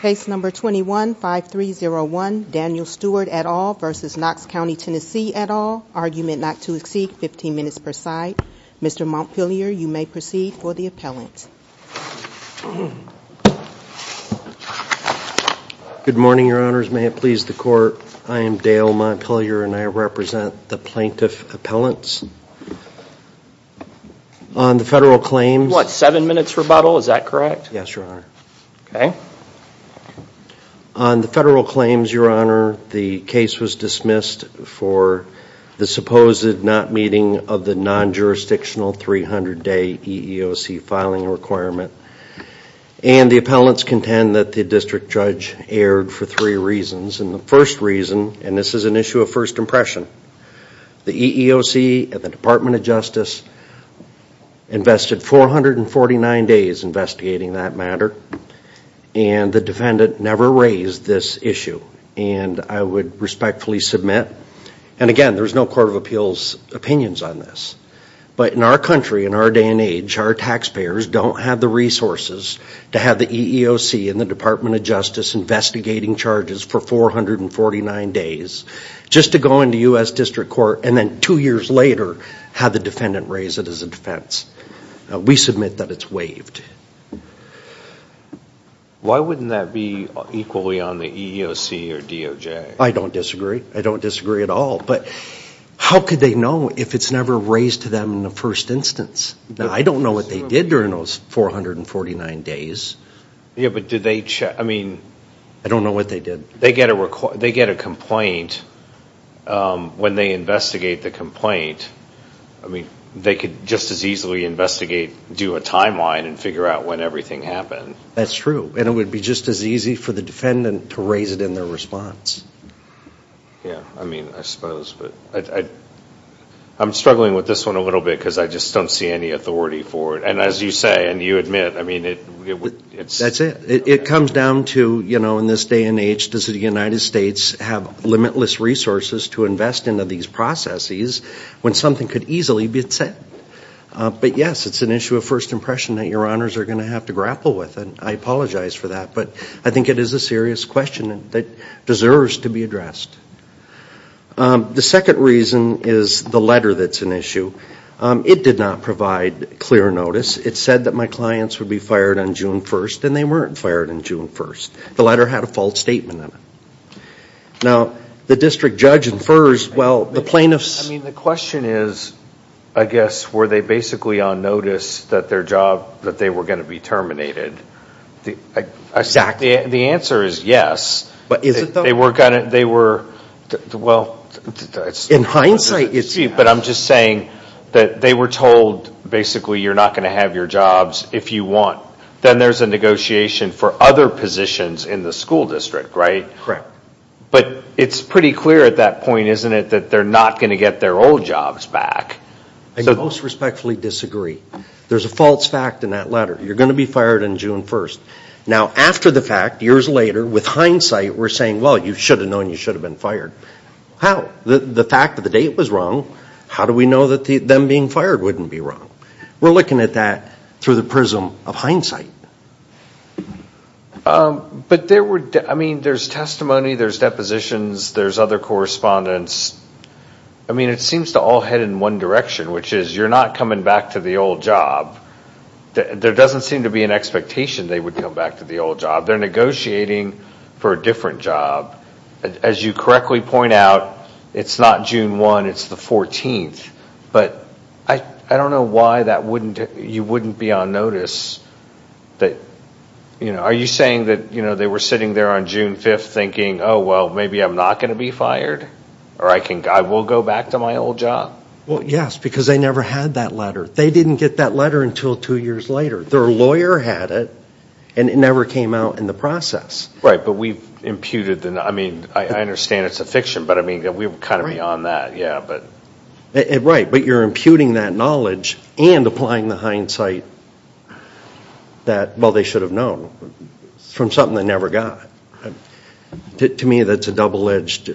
Case number 21-5301, Daniel Stewart et al. v. Knox County TN et al. Argument not to exceed 15 minutes per side. Mr. Montpelier, you may proceed for the appellant. Good morning, your honors. May it please the court, I am Dale Montpelier and I represent the plaintiff appellants. On the federal claims... What, seven minutes rebuttal, is that correct? Yes, your honor. On the federal claims, your honor, the case was dismissed for the supposed not meeting of the non-jurisdictional 300-day EEOC filing requirement. And the appellants contend that the district judge erred for three reasons. And the first reason, and this is an issue of first impression, the EEOC and the Department of Justice invested 449 days investigating that matter. And the defendant never raised this issue and I would respectfully submit. And again, there's no Court of Appeals opinions on this. But in our country, in our day and age, our taxpayers don't have the resources to have the EEOC and the Department of Justice investigating charges for 449 days. Just to go into U.S. District Court and then two years later have the defendant raise it as a defense. We submit that it's waived. Why wouldn't that be equally on the EEOC or DOJ? I don't disagree. I don't disagree at all. But how could they know if it's never raised to them in the first instance? I don't know what they did during those 449 days. Yeah, but did they check, I mean... I don't know what they did. They get a complaint when they investigate the complaint. I mean, they could just as easily investigate, do a timeline and figure out when everything happened. That's true. And it would be just as easy for the defendant to raise it in their response. Yeah, I mean, I suppose. I'm struggling with this one a little bit because I just don't see any authority for it. And as you say and you admit, I mean... That's it. It comes down to, you know, in this day and age, does the United States have limitless resources to invest into these processes when something could easily be said? But yes, it's an issue of first impression that your honors are going to have to grapple with, and I apologize for that. But I think it is a serious question that deserves to be addressed. The second reason is the letter that's an issue. It did not provide clear notice. It said that my clients would be fired on June 1st, and they weren't fired on June 1st. The letter had a false statement in it. Now, the district judge infers, well, the plaintiffs... Were they basically on notice that their job, that they were going to be terminated? Exactly. The answer is yes. But is it, though? They were going to... Well... In hindsight, it's... But I'm just saying that they were told, basically, you're not going to have your jobs if you want. Then there's a negotiation for other positions in the school district, right? Correct. But it's pretty clear at that point, isn't it, that they're not going to get their old jobs back. I most respectfully disagree. There's a false fact in that letter. You're going to be fired on June 1st. Now, after the fact, years later, with hindsight, we're saying, well, you should have known you should have been fired. How? The fact of the date was wrong. How do we know that them being fired wouldn't be wrong? We're looking at that through the prism of hindsight. But there were... I mean, there's testimony, there's depositions, there's other correspondence. I mean, it seems to all head in one direction, which is you're not coming back to the old job. There doesn't seem to be an expectation they would come back to the old job. They're negotiating for a different job. As you correctly point out, it's not June 1, it's the 14th. But I don't know why that wouldn't... You wouldn't be on notice that... Are you saying that they were sitting there on June 5th thinking, oh, well, maybe I'm not going to be fired? Or I will go back to my old job? Well, yes, because they never had that letter. They didn't get that letter until two years later. Their lawyer had it, and it never came out in the process. Right, but we've imputed the... I mean, I understand it's a fiction, but, I mean, we're kind of beyond that. Right, but you're imputing that knowledge and applying the hindsight that, well, they should have known. From something they never got. To me, that's a double-edged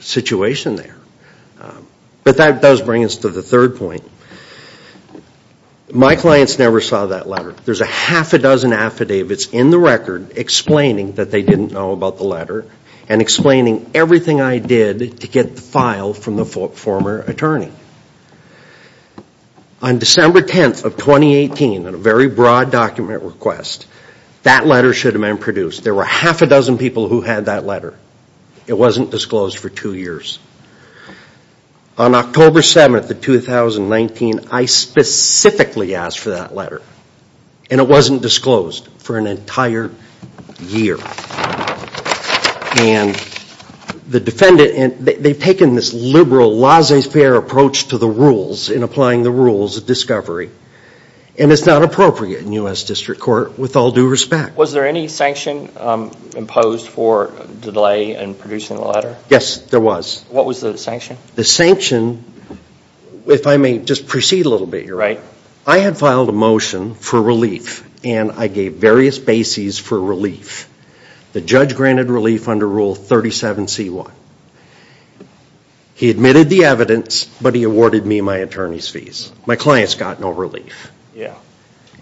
situation there. But that does bring us to the third point. My clients never saw that letter. There's a half a dozen affidavits in the record explaining that they didn't know about the letter and explaining everything I did to get the file from the former attorney. On December 10th of 2018, in a very broad document request, that letter should have been produced. There were a half a dozen people who had that letter. It wasn't disclosed for two years. On October 7th of 2019, I specifically asked for that letter. And it wasn't disclosed for an entire year. And the defendant... They've taken this liberal, laissez-faire approach to the rules in applying the rules of discovery. And it's not appropriate in U.S. District Court, with all due respect. Was there any sanction imposed for delay in producing the letter? Yes, there was. What was the sanction? The sanction... If I may just proceed a little bit here. I had filed a motion for relief. And I gave various bases for relief. The judge granted relief under Rule 37C1. He admitted the evidence, but he awarded me my attorney's fees. My clients got no relief. Yeah.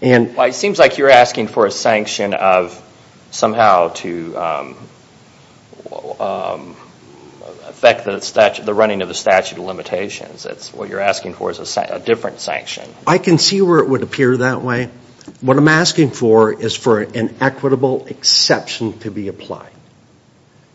It seems like you're asking for a sanction of somehow to affect the running of the statute of limitations. What you're asking for is a different sanction. I can see where it would appear that way. What I'm asking for is for an equitable exception to be applied.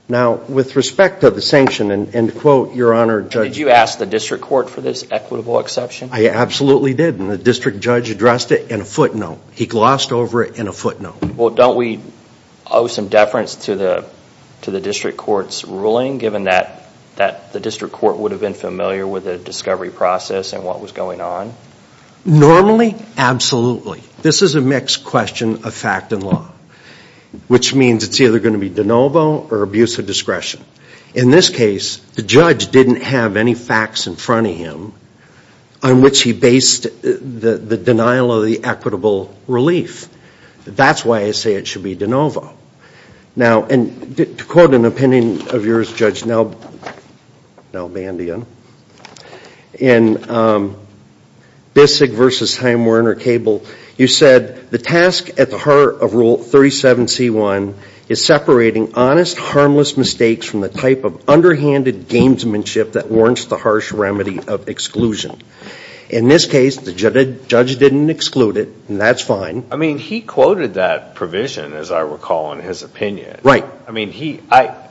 Now, with respect to the sanction, and to quote your Honor... Did you ask the District Court for this equitable exception? I absolutely did. And the District Judge addressed it in a footnote. He glossed over it in a footnote. Well, don't we owe some deference to the District Court's ruling, given that the District Court would have been familiar with the discovery process and what was going on? Normally, absolutely. This is a mixed question of fact and law, which means it's either going to be de novo or abuse of discretion. In this case, the judge didn't have any facts in front of him on which he based the denial of the equitable relief. That's why I say it should be de novo. Now, and to quote an opinion of yours, Judge Nelbandian, in Bissig v. Heim-Werner Cable, you said, The task at the heart of Rule 37c1 is separating honest, harmless mistakes from the type of underhanded gamesmanship that warrants the harsh remedy of exclusion. In this case, the judge didn't exclude it, and that's fine. I mean, he quoted that provision, as I recall, in his opinion. Right. I mean, I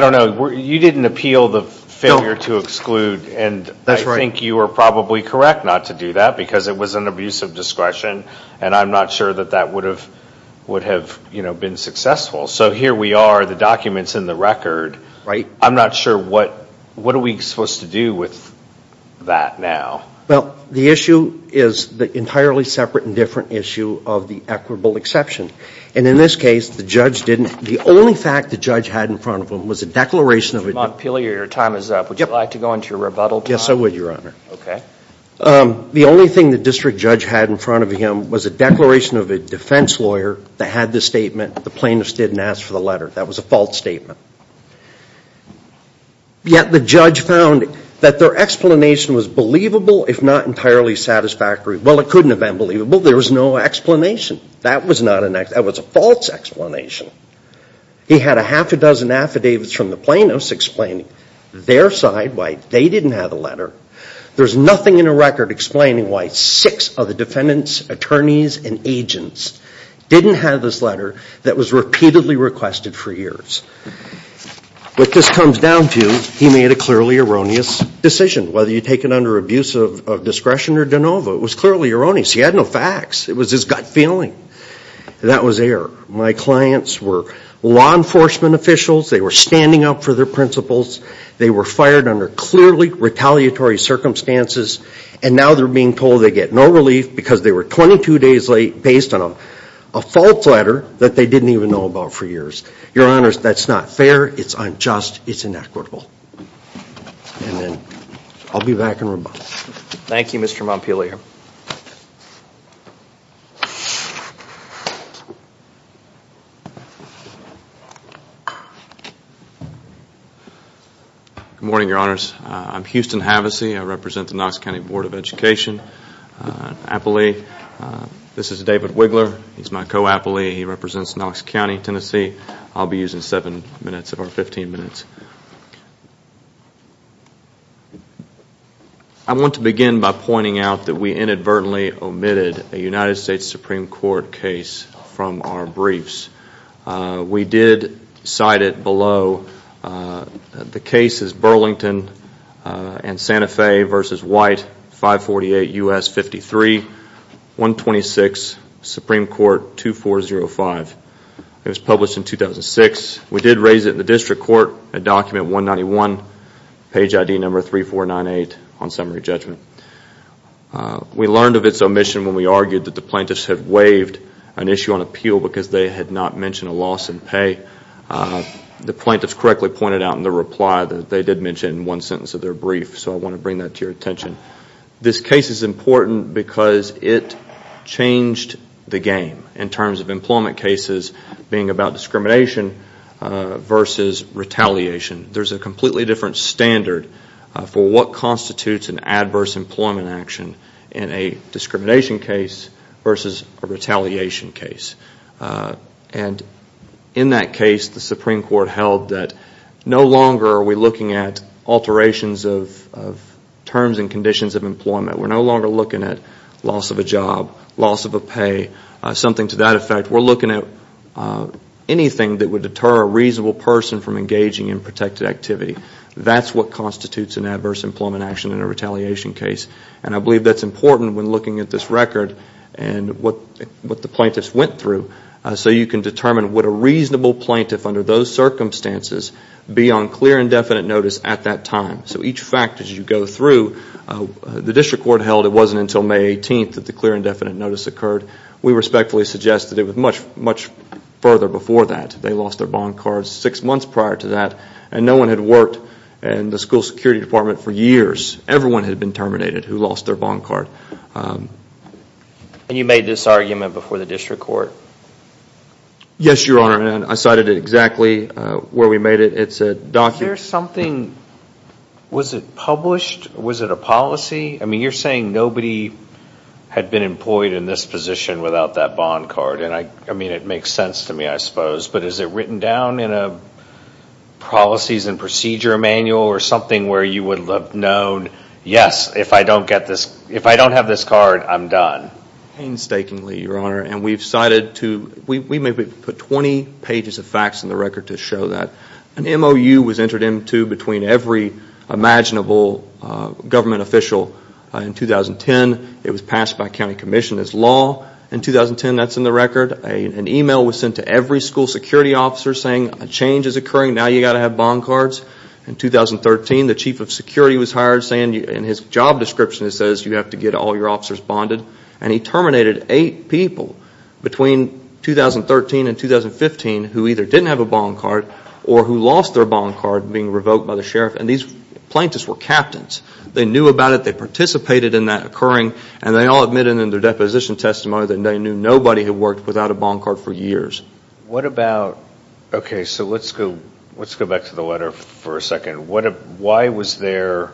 don't know. You didn't appeal the failure to exclude, and I think you are probably correct not to do that, because it was an abuse of discretion, and I'm not sure that that would have been successful. So here we are, the document's in the record. I'm not sure what are we supposed to do with that now. Well, the issue is the entirely separate and different issue of the equitable exception. And in this case, the judge didn't. The only fact the judge had in front of him was a declaration of a Mr. Montpelier, your time is up. Would you like to go into your rebuttal time? Yes, I would, Your Honor. Okay. The only thing the district judge had in front of him was a declaration of a defense lawyer that had this statement. The plaintiff didn't ask for the letter. That was a false statement. Yet the judge found that their explanation was believable, if not entirely satisfactory. Well, it couldn't have been believable. There was no explanation. That was not an explanation. That was a false explanation. He had a half a dozen affidavits from the plaintiffs explaining their side why they didn't have a letter. There's nothing in the record explaining why six of the defendants, attorneys, and agents didn't have this letter that was repeatedly requested for years. What this comes down to, he made a clearly erroneous decision. Whether you take it under abuse of discretion or de novo, it was clearly erroneous. He had no facts. It was his gut feeling. That was error. My clients were law enforcement officials. They were standing up for their principles. They were fired under clearly retaliatory circumstances, and now they're being told they get no relief because they were 22 days late based on a false letter that they didn't even know about for years. Your Honors, that's not fair. It's unjust. It's inequitable. And then I'll be back in a moment. Thank you, Mr. Montpelier. Good morning, Your Honors. I'm Houston Havasey. I represent the Knox County Board of Education. I'm an appellee. This is David Wiggler. He's my co-appellee. He represents Knox County, Tennessee. I'll be using 7 minutes of our 15 minutes. I want to begin by pointing out that we inadvertently omitted a United States Supreme Court case from our briefs. We did cite it below. The case is Burlington v. Santa Fe v. White, 548 U.S. 53, 126, Supreme Court 2405. It was published in 2006. We did raise it in the district court at document 191, page ID number 3498 on summary judgment. We learned of its omission when we argued that the plaintiffs had waived an issue on appeal because they had not mentioned a loss in pay. The plaintiffs correctly pointed out in their reply that they did mention it in one sentence of their brief, so I want to bring that to your attention. This case is important because it changed the game in terms of employment cases being about discrimination versus retaliation. There's a completely different standard for what constitutes an adverse employment action in a discrimination case versus a retaliation case. In that case, the Supreme Court held that no longer are we looking at alterations of terms and conditions of employment. We're no longer looking at loss of a job, loss of a pay, something to that effect. We're looking at anything that would deter a reasonable person from engaging in protected activity. That's what constitutes an adverse employment action in a retaliation case. I believe that's important when looking at this record and what the plaintiffs went through so you can determine would a reasonable plaintiff under those circumstances be on clear and definite notice at that time. Each fact as you go through, the district court held it wasn't until May 18th that the clear and definite notice occurred. We respectfully suggest that it was much further before that. They lost their bond cards six months prior to that. No one had worked in the school security department for years. Everyone had been terminated who lost their bond card. You made this argument before the district court? Yes, Your Honor. I cited it exactly where we made it. Was it published? Was it a policy? You're saying nobody had been employed in this position without that bond card. It makes sense to me, I suppose, but is it written down in a policies and procedure manual or something where you would have known, yes, if I don't have this card, I'm done? Painstakingly, Your Honor. We may have put 20 pages of facts in the record to show that. An MOU was entered into between every imaginable government official in 2010. It was passed by county commission as law in 2010. That's in the record. An email was sent to every school security officer saying a change is occurring, now you've got to have bond cards. In 2013, the chief of security was hired saying in his job description it says you have to get all your officers bonded. And he terminated eight people between 2013 and 2015 who either didn't have a bond card or who lost their bond card being revoked by the sheriff. And these plaintiffs were captains. They knew about it. They participated in that occurring. And they all admitted in their deposition testimony that they knew nobody had worked without a bond card for years. What about, okay, so let's go back to the letter for a second. Why was there,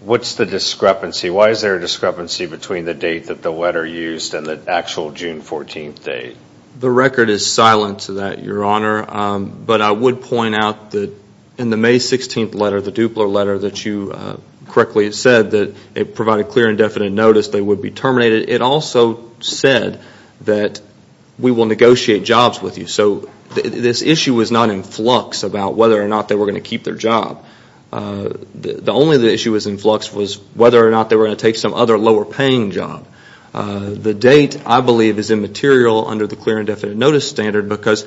what's the discrepancy? Why is there a discrepancy between the date that the letter used and the actual June 14th date? The record is silent to that, Your Honor. But I would point out that in the May 16th letter, the Dupler letter, that you correctly said that it provided clear and definite notice they would be terminated. But it also said that we will negotiate jobs with you. So this issue was not in flux about whether or not they were going to keep their job. The only issue that was in flux was whether or not they were going to take some other lower paying job. The date, I believe, is immaterial under the clear and definite notice standard because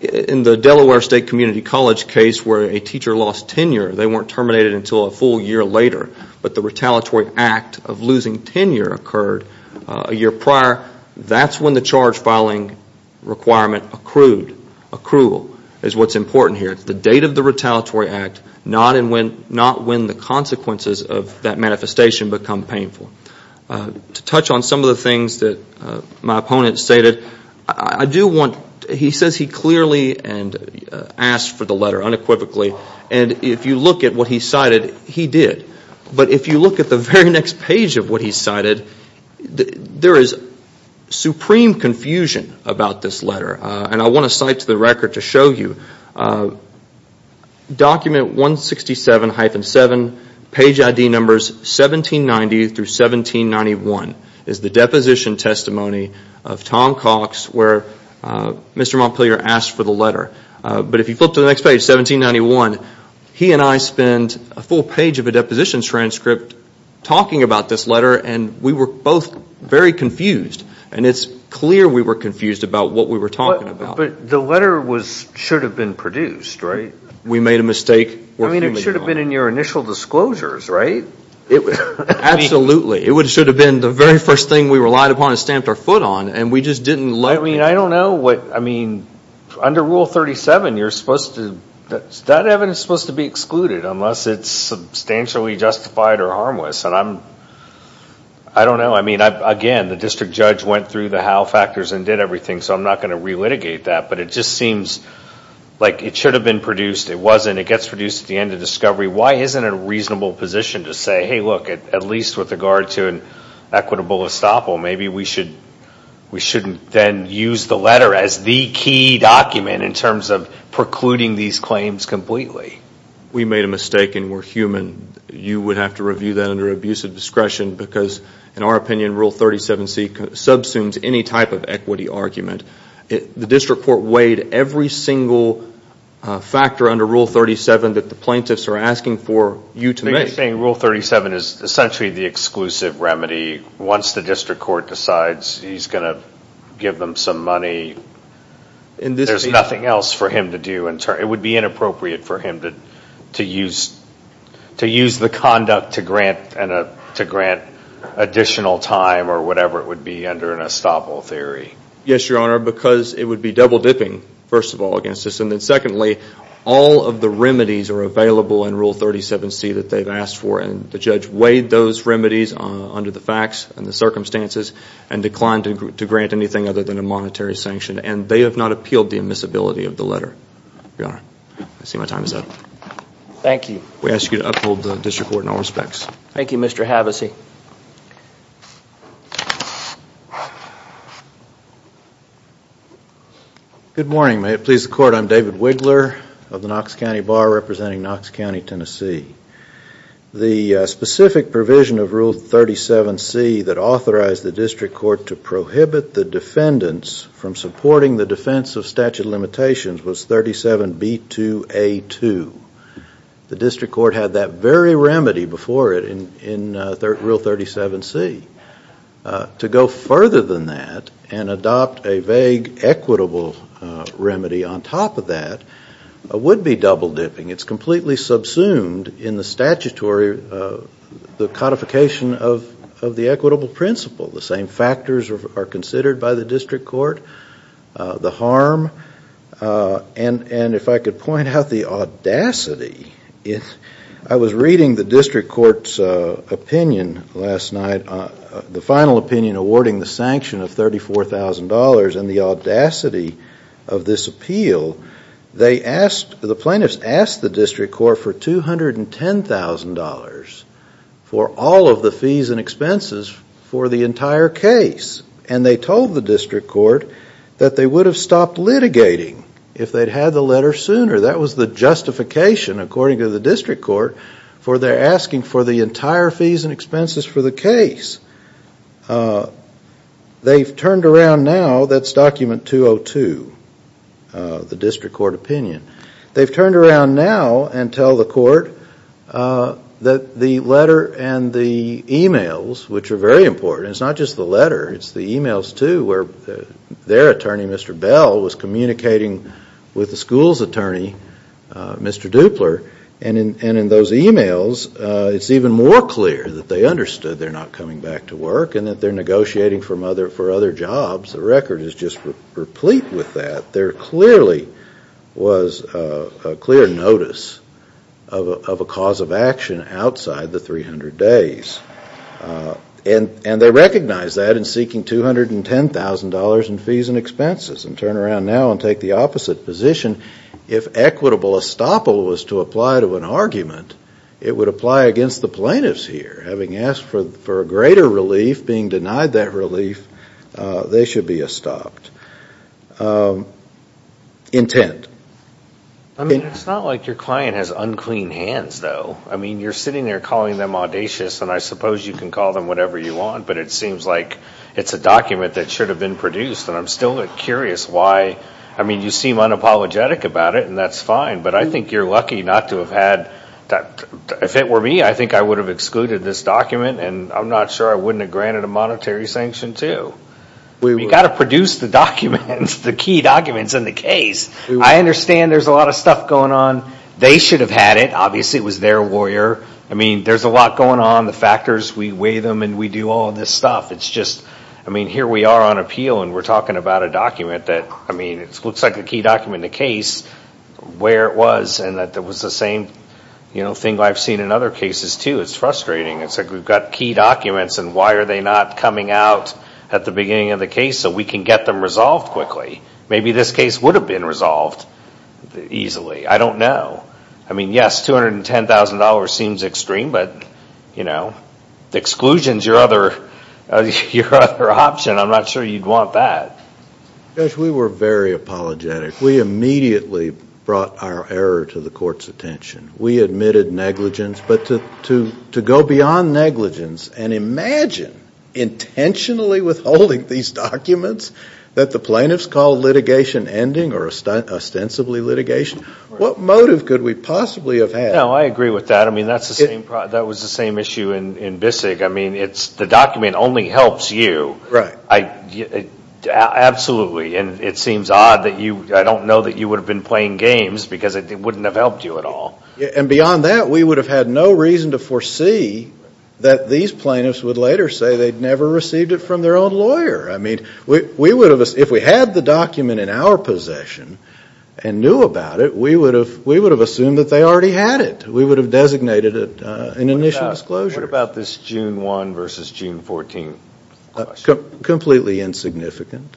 in the Delaware State Community College case where a teacher lost tenure, they weren't terminated until a full year later, but the retaliatory act of losing tenure occurred a year prior, that's when the charge filing requirement accrued. Accrual is what's important here. It's the date of the retaliatory act, not when the consequences of that manifestation become painful. To touch on some of the things that my opponent stated, I do want, he says he clearly asked for the letter unequivocally. And if you look at what he cited, he did. But if you look at the very next page of what he cited, there is supreme confusion about this letter. And I want to cite to the record to show you, document 167-7, page ID numbers 1790 through 1791, is the deposition testimony of Tom Cox where Mr. Montpelier asked for the letter. But if you flip to the next page, 1791, he and I spend a full page of a deposition transcript talking about this letter, and we were both very confused. And it's clear we were confused about what we were talking about. But the letter should have been produced, right? We made a mistake. I mean, it should have been in your initial disclosures, right? Absolutely. It should have been the very first thing we relied upon and stamped our foot on, and we just didn't let it. I mean, I don't know what, I mean, under Rule 37, you're supposed to, that evidence is supposed to be excluded unless it's substantially justified or harmless. And I'm, I don't know. I mean, again, the district judge went through the how factors and did everything, so I'm not going to relitigate that. But it just seems like it should have been produced. It wasn't. It gets produced at the end of discovery. Why isn't it a reasonable position to say, hey, look, at least with regard to an equitable estoppel, maybe we should, we shouldn't then use the letter as the key document in terms of precluding these claims completely. We made a mistake, and we're human. You would have to review that under abuse of discretion because, in our opinion, Rule 37C subsumes any type of equity argument. The district court weighed every single factor under Rule 37 that the plaintiffs are asking for you to make. You're saying Rule 37 is essentially the exclusive remedy once the district court decides he's going to give them some money. There's nothing else for him to do. It would be inappropriate for him to use the conduct to grant additional time or whatever it would be under an estoppel theory. Yes, Your Honor, because it would be double dipping, first of all, against us. And then secondly, all of the remedies are available in Rule 37C that they've asked for, and the judge weighed those remedies under the facts and the circumstances and declined to grant anything other than a monetary sanction. And they have not appealed the admissibility of the letter, Your Honor. I see my time is up. Thank you. We ask you to uphold the district court in all respects. Thank you, Mr. Havasey. Good morning. May it please the Court, I'm David Wiggler of the Knox County Bar representing Knox County, Tennessee. The specific provision of Rule 37C that authorized the district court to prohibit the defendants from supporting the defense of statute of limitations was 37B2A2. The district court had that very remedy before it in Rule 37C. To go further than that and adopt a vague equitable remedy on top of that would be double dipping. It's completely subsumed in the statutory, the codification of the equitable principle. The same factors are considered by the district court, the harm, and if I could point out the audacity. I was reading the district court's opinion last night, the final opinion awarding the sanction of $34,000 and the audacity of this appeal. The plaintiffs asked the district court for $210,000 for all of the fees and expenses for the entire case. And they told the district court that they would have stopped litigating if they'd had the letter sooner. That was the justification, according to the district court, for their asking for the entire fees and expenses for the case. They've turned around now, that's document 202, the district court opinion. They've turned around now and tell the court that the letter and the emails, which are very important, it's not just the letter, it's the emails too where their attorney, Mr. Bell, was communicating with the school's attorney, Mr. Dupler, and in those emails it's even more clear that they understood they're not coming back to work and that they're negotiating for other jobs. The record is just replete with that. There clearly was a clear notice of a cause of action outside the 300 days. And they recognize that in seeking $210,000 in fees and expenses and turn around now and take the opposite position. If equitable estoppel was to apply to an argument, it would apply against the plaintiffs here. Having asked for a greater relief, being denied that relief, they should be estopped. Intent. It's not like your client has unclean hands, though. I mean, you're sitting there calling them audacious, and I suppose you can call them whatever you want, but it seems like it's a document that should have been produced, and I'm still curious why. I mean, you seem unapologetic about it, and that's fine, but I think you're lucky not to have had that. If it were me, I think I would have excluded this document, and I'm not sure I wouldn't have granted a monetary sanction too. You've got to produce the documents, the key documents in the case. I understand there's a lot of stuff going on. They should have had it. Obviously, it was their lawyer. I mean, there's a lot going on, the factors. We weigh them, and we do all this stuff. It's just, I mean, here we are on appeal, and we're talking about a document that, I mean, it looks like the key document in the case, where it was, and that it was the same thing I've seen in other cases too. It's frustrating. It's like we've got key documents, and why are they not coming out at the beginning of the case so we can get them resolved quickly? Maybe this case would have been resolved easily. I don't know. I mean, yes, $210,000 seems extreme, but, you know, exclusion is your other option. I'm not sure you'd want that. Josh, we were very apologetic. We immediately brought our error to the court's attention. We admitted negligence, but to go beyond negligence and imagine intentionally withholding these documents that the plaintiffs call litigation ending or ostensibly litigation, what motive could we possibly have had? No, I agree with that. I mean, that was the same issue in BISIG. I mean, the document only helps you. Right. Absolutely. And it seems odd that you, I don't know that you would have been playing games because it wouldn't have helped you at all. And beyond that, we would have had no reason to foresee that these plaintiffs would later say they'd never received it from their own lawyer. I mean, if we had the document in our possession and knew about it, we would have assumed that they already had it. We would have designated it an initial disclosure. What about this June 1 versus June 14 question? Completely insignificant.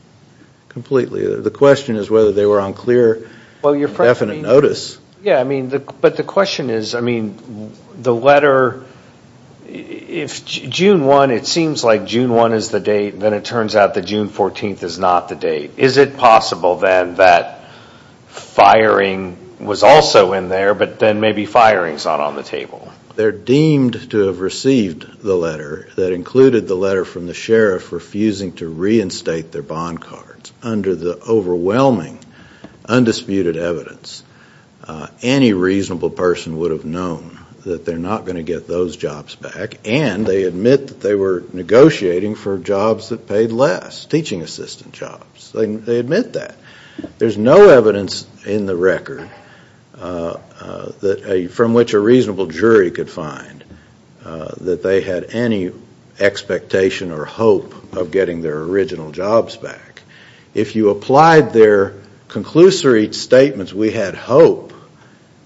Completely. The question is whether they were on clear and definite notice. Yeah, I mean, but the question is, I mean, the letter, if June 1, it seems like June 1 is the date, then it turns out that June 14 is not the date. Is it possible then that firing was also in there, but then maybe firing is not on the table? They're deemed to have received the letter that included the letter from the sheriff refusing to reinstate their bond cards. Under the overwhelming, undisputed evidence, any reasonable person would have known that they're not going to get those jobs back, and they admit that they were negotiating for jobs that paid less, teaching assistant jobs. They admit that. There's no evidence in the record from which a reasonable jury could find that they had any expectation or hope of getting their original jobs back. If you applied their conclusory statements, we had hope,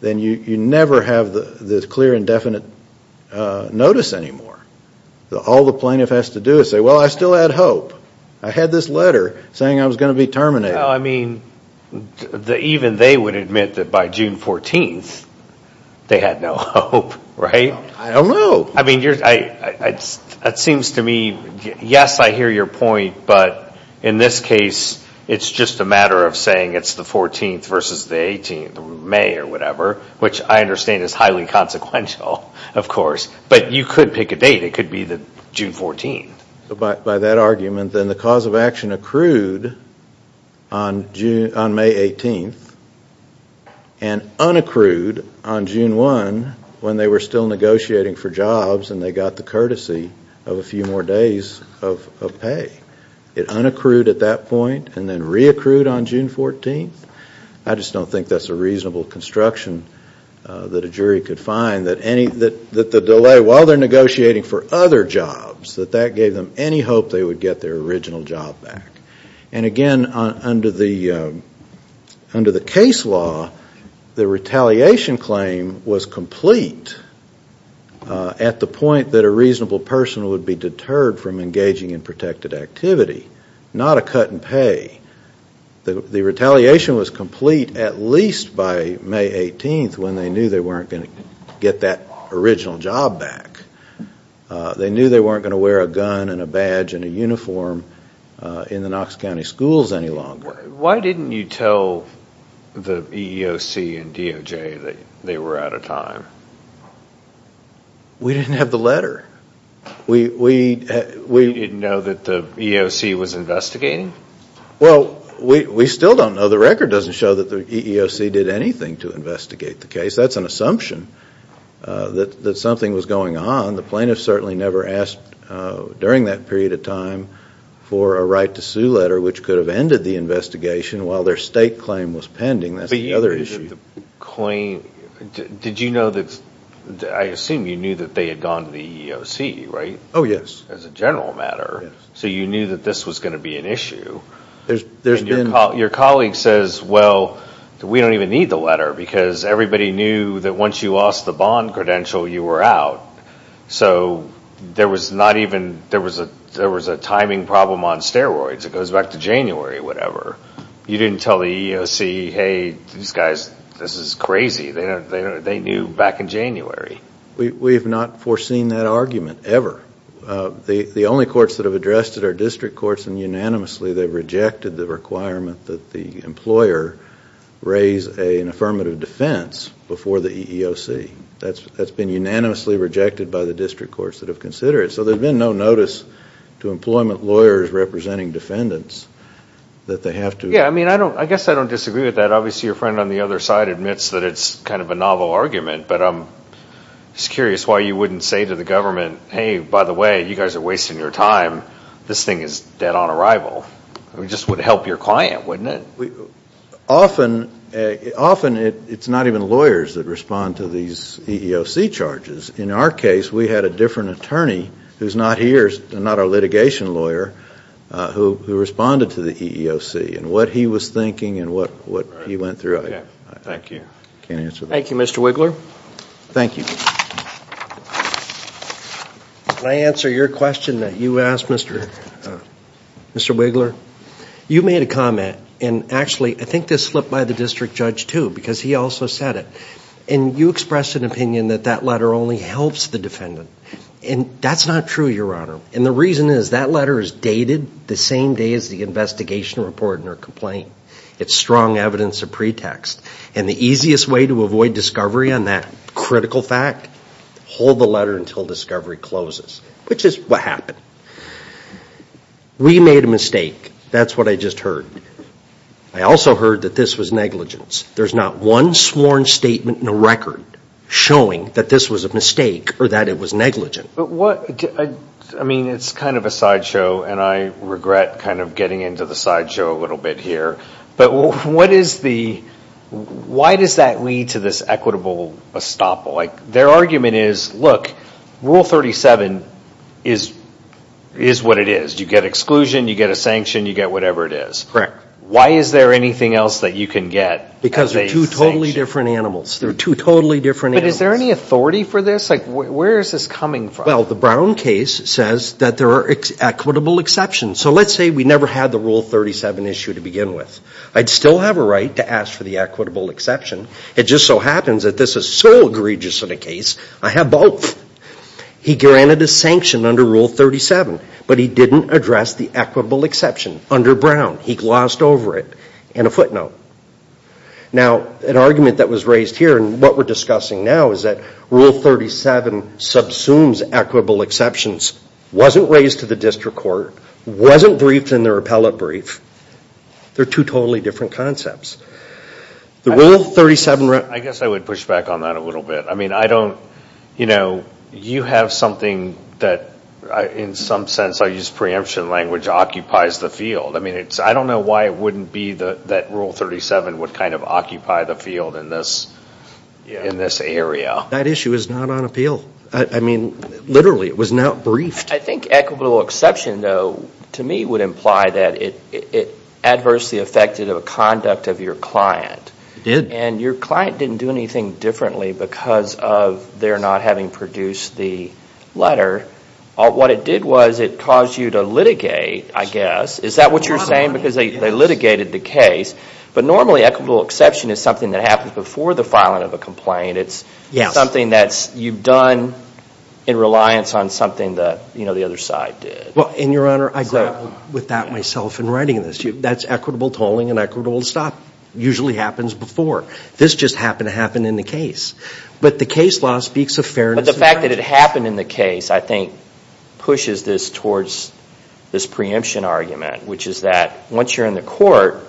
then you never have the clear and definite notice anymore. All the plaintiff has to do is say, well, I still had hope. I had this letter saying I was going to be terminated. I mean, even they would admit that by June 14, they had no hope, right? I don't know. I mean, that seems to me, yes, I hear your point, but in this case, it's just a matter of saying it's the 14th versus the 18th, May or whatever, which I understand is highly consequential, of course. But you could pick a date. It could be June 14. By that argument, then the cause of action accrued on May 18th and unaccrued on June 1 when they were still negotiating for jobs and they got the courtesy of a few more days of pay. It unaccrued at that point and then reaccrued on June 14. I just don't think that's a reasonable construction that a jury could find, that the delay while they're negotiating for other jobs, that that gave them any hope they would get their original job back. And again, under the case law, the retaliation claim was complete at the point that a reasonable person would be deterred from engaging in protected activity, not a cut in pay. The retaliation was complete at least by May 18th when they knew they weren't going to get that original job back. They knew they weren't going to wear a gun and a badge and a uniform in the Knox County schools any longer. Why didn't you tell the EEOC and DOJ that they were out of time? We didn't have the letter. You didn't know that the EEOC was investigating? Well, we still don't know. The record doesn't show that the EEOC did anything to investigate the case. That's an assumption that something was going on. The plaintiff certainly never asked during that period of time for a right to sue letter which could have ended the investigation while their state claim was pending. That's the other issue. Did you know that, I assume you knew that they had gone to the EEOC, right? Oh, yes. As a general matter. So you knew that this was going to be an issue. Your colleague says, well, we don't even need the letter because everybody knew that once you lost the bond credential, you were out. So there was a timing problem on steroids. It goes back to January, whatever. You didn't tell the EEOC, hey, these guys, this is crazy. They knew back in January. We have not foreseen that argument ever. The only courts that have addressed it are district courts and unanimously they've rejected the requirement that the employer raise an affirmative defense before the EEOC. That's been unanimously rejected by the district courts that have considered it. So there's been no notice to employment lawyers representing defendants that they have to. Yeah, I mean, I guess I don't disagree with that. Obviously, your friend on the other side admits that it's kind of a novel argument. But I'm just curious why you wouldn't say to the government, hey, by the way, you guys are wasting your time. This thing is dead on arrival. It just would help your client, wouldn't it? Often it's not even lawyers that respond to these EEOC charges. In our case, we had a different attorney who's not here, not our litigation lawyer, who responded to the EEOC and what he was thinking and what he went through. Thank you. Thank you, Mr. Wiggler. Thank you. Can I answer your question that you asked, Mr. Wiggler? You made a comment, and actually I think this slipped by the district judge, too, because he also said it. And you expressed an opinion that that letter only helps the defendant, and that's not true, Your Honor. And the reason is that letter is dated the same day as the investigation report and their complaint. It's strong evidence of pretext. And the easiest way to avoid discovery on that critical fact, hold the letter until discovery closes, which is what happened. We made a mistake. That's what I just heard. I also heard that this was negligence. There's not one sworn statement in the record showing that this was a mistake or that it was negligent. I mean, it's kind of a sideshow, and I regret kind of getting into the sideshow a little bit here. But why does that lead to this equitable estoppel? Their argument is, look, Rule 37 is what it is. You get exclusion, you get a sanction, you get whatever it is. Correct. Why is there anything else that you can get as a sanction? Because they're two totally different animals. They're two totally different animals. But is there any authority for this? Like, where is this coming from? Well, the Brown case says that there are equitable exceptions. So let's say we never had the Rule 37 issue to begin with. I'd still have a right to ask for the equitable exception. It just so happens that this is so egregious of a case, I have both. He granted a sanction under Rule 37, but he didn't address the equitable exception under Brown. He glossed over it in a footnote. Now, an argument that was raised here, and what we're discussing now, is that Rule 37 subsumes equitable exceptions, wasn't raised to the district court, wasn't briefed in their appellate brief. They're two totally different concepts. I guess I would push back on that a little bit. I mean, you have something that, in some sense, I use preemption language, occupies the field. I mean, I don't know why it wouldn't be that Rule 37 would kind of occupy the field in this area. That issue is not on appeal. I mean, literally, it was not briefed. I think equitable exception, though, to me, would imply that it adversely affected the conduct of your client. It did. And your client didn't do anything differently because of their not having produced the letter. What it did was it caused you to litigate, I guess. Is that what you're saying? Because they litigated the case. But normally, equitable exception is something that happens before the filing of a complaint. It's something that you've done in reliance on something that the other side did. Well, and, Your Honor, I grapple with that myself in writing this. That's equitable tolling and equitable to stop. It usually happens before. This just happened to happen in the case. But the case law speaks of fairness. But the fact that it happened in the case, I think, pushes this towards this preemption argument, which is that once you're in the court,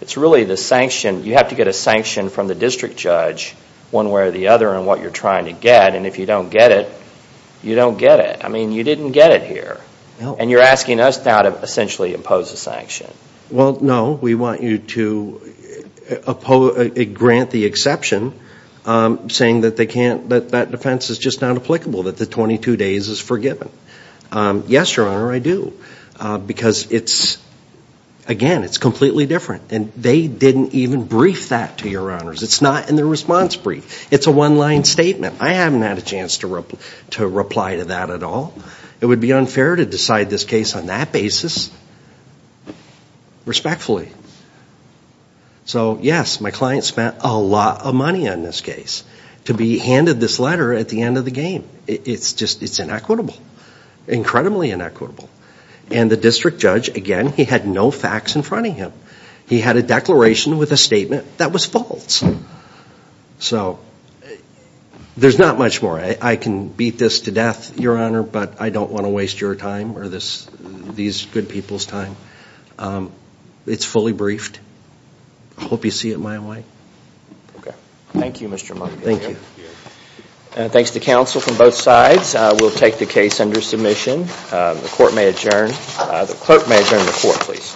it's really the sanction. You have to get a sanction from the district judge, one way or the other, on what you're trying to get. And if you don't get it, you don't get it. I mean, you didn't get it here. And you're asking us now to essentially impose a sanction. Well, no. We want you to grant the exception, saying that that defense is just not applicable, that the 22 days is forgiven. Yes, Your Honor, I do. Because, again, it's completely different. And they didn't even brief that to Your Honors. It's not in the response brief. It's a one-line statement. I haven't had a chance to reply to that at all. It would be unfair to decide this case on that basis. Respectfully. So, yes, my client spent a lot of money on this case to be handed this letter at the end of the game. It's just inequitable, incredibly inequitable. And the district judge, again, he had no facts in front of him. He had a declaration with a statement that was false. So there's not much more. I can beat this to death, Your Honor, but I don't want to waste your time or these good people's time. It's fully briefed. I hope you see it my way. Okay. Thank you, Mr. Monk. Thank you. Thanks to counsel from both sides. We'll take the case under submission. The court may adjourn. The clerk may adjourn the court, please.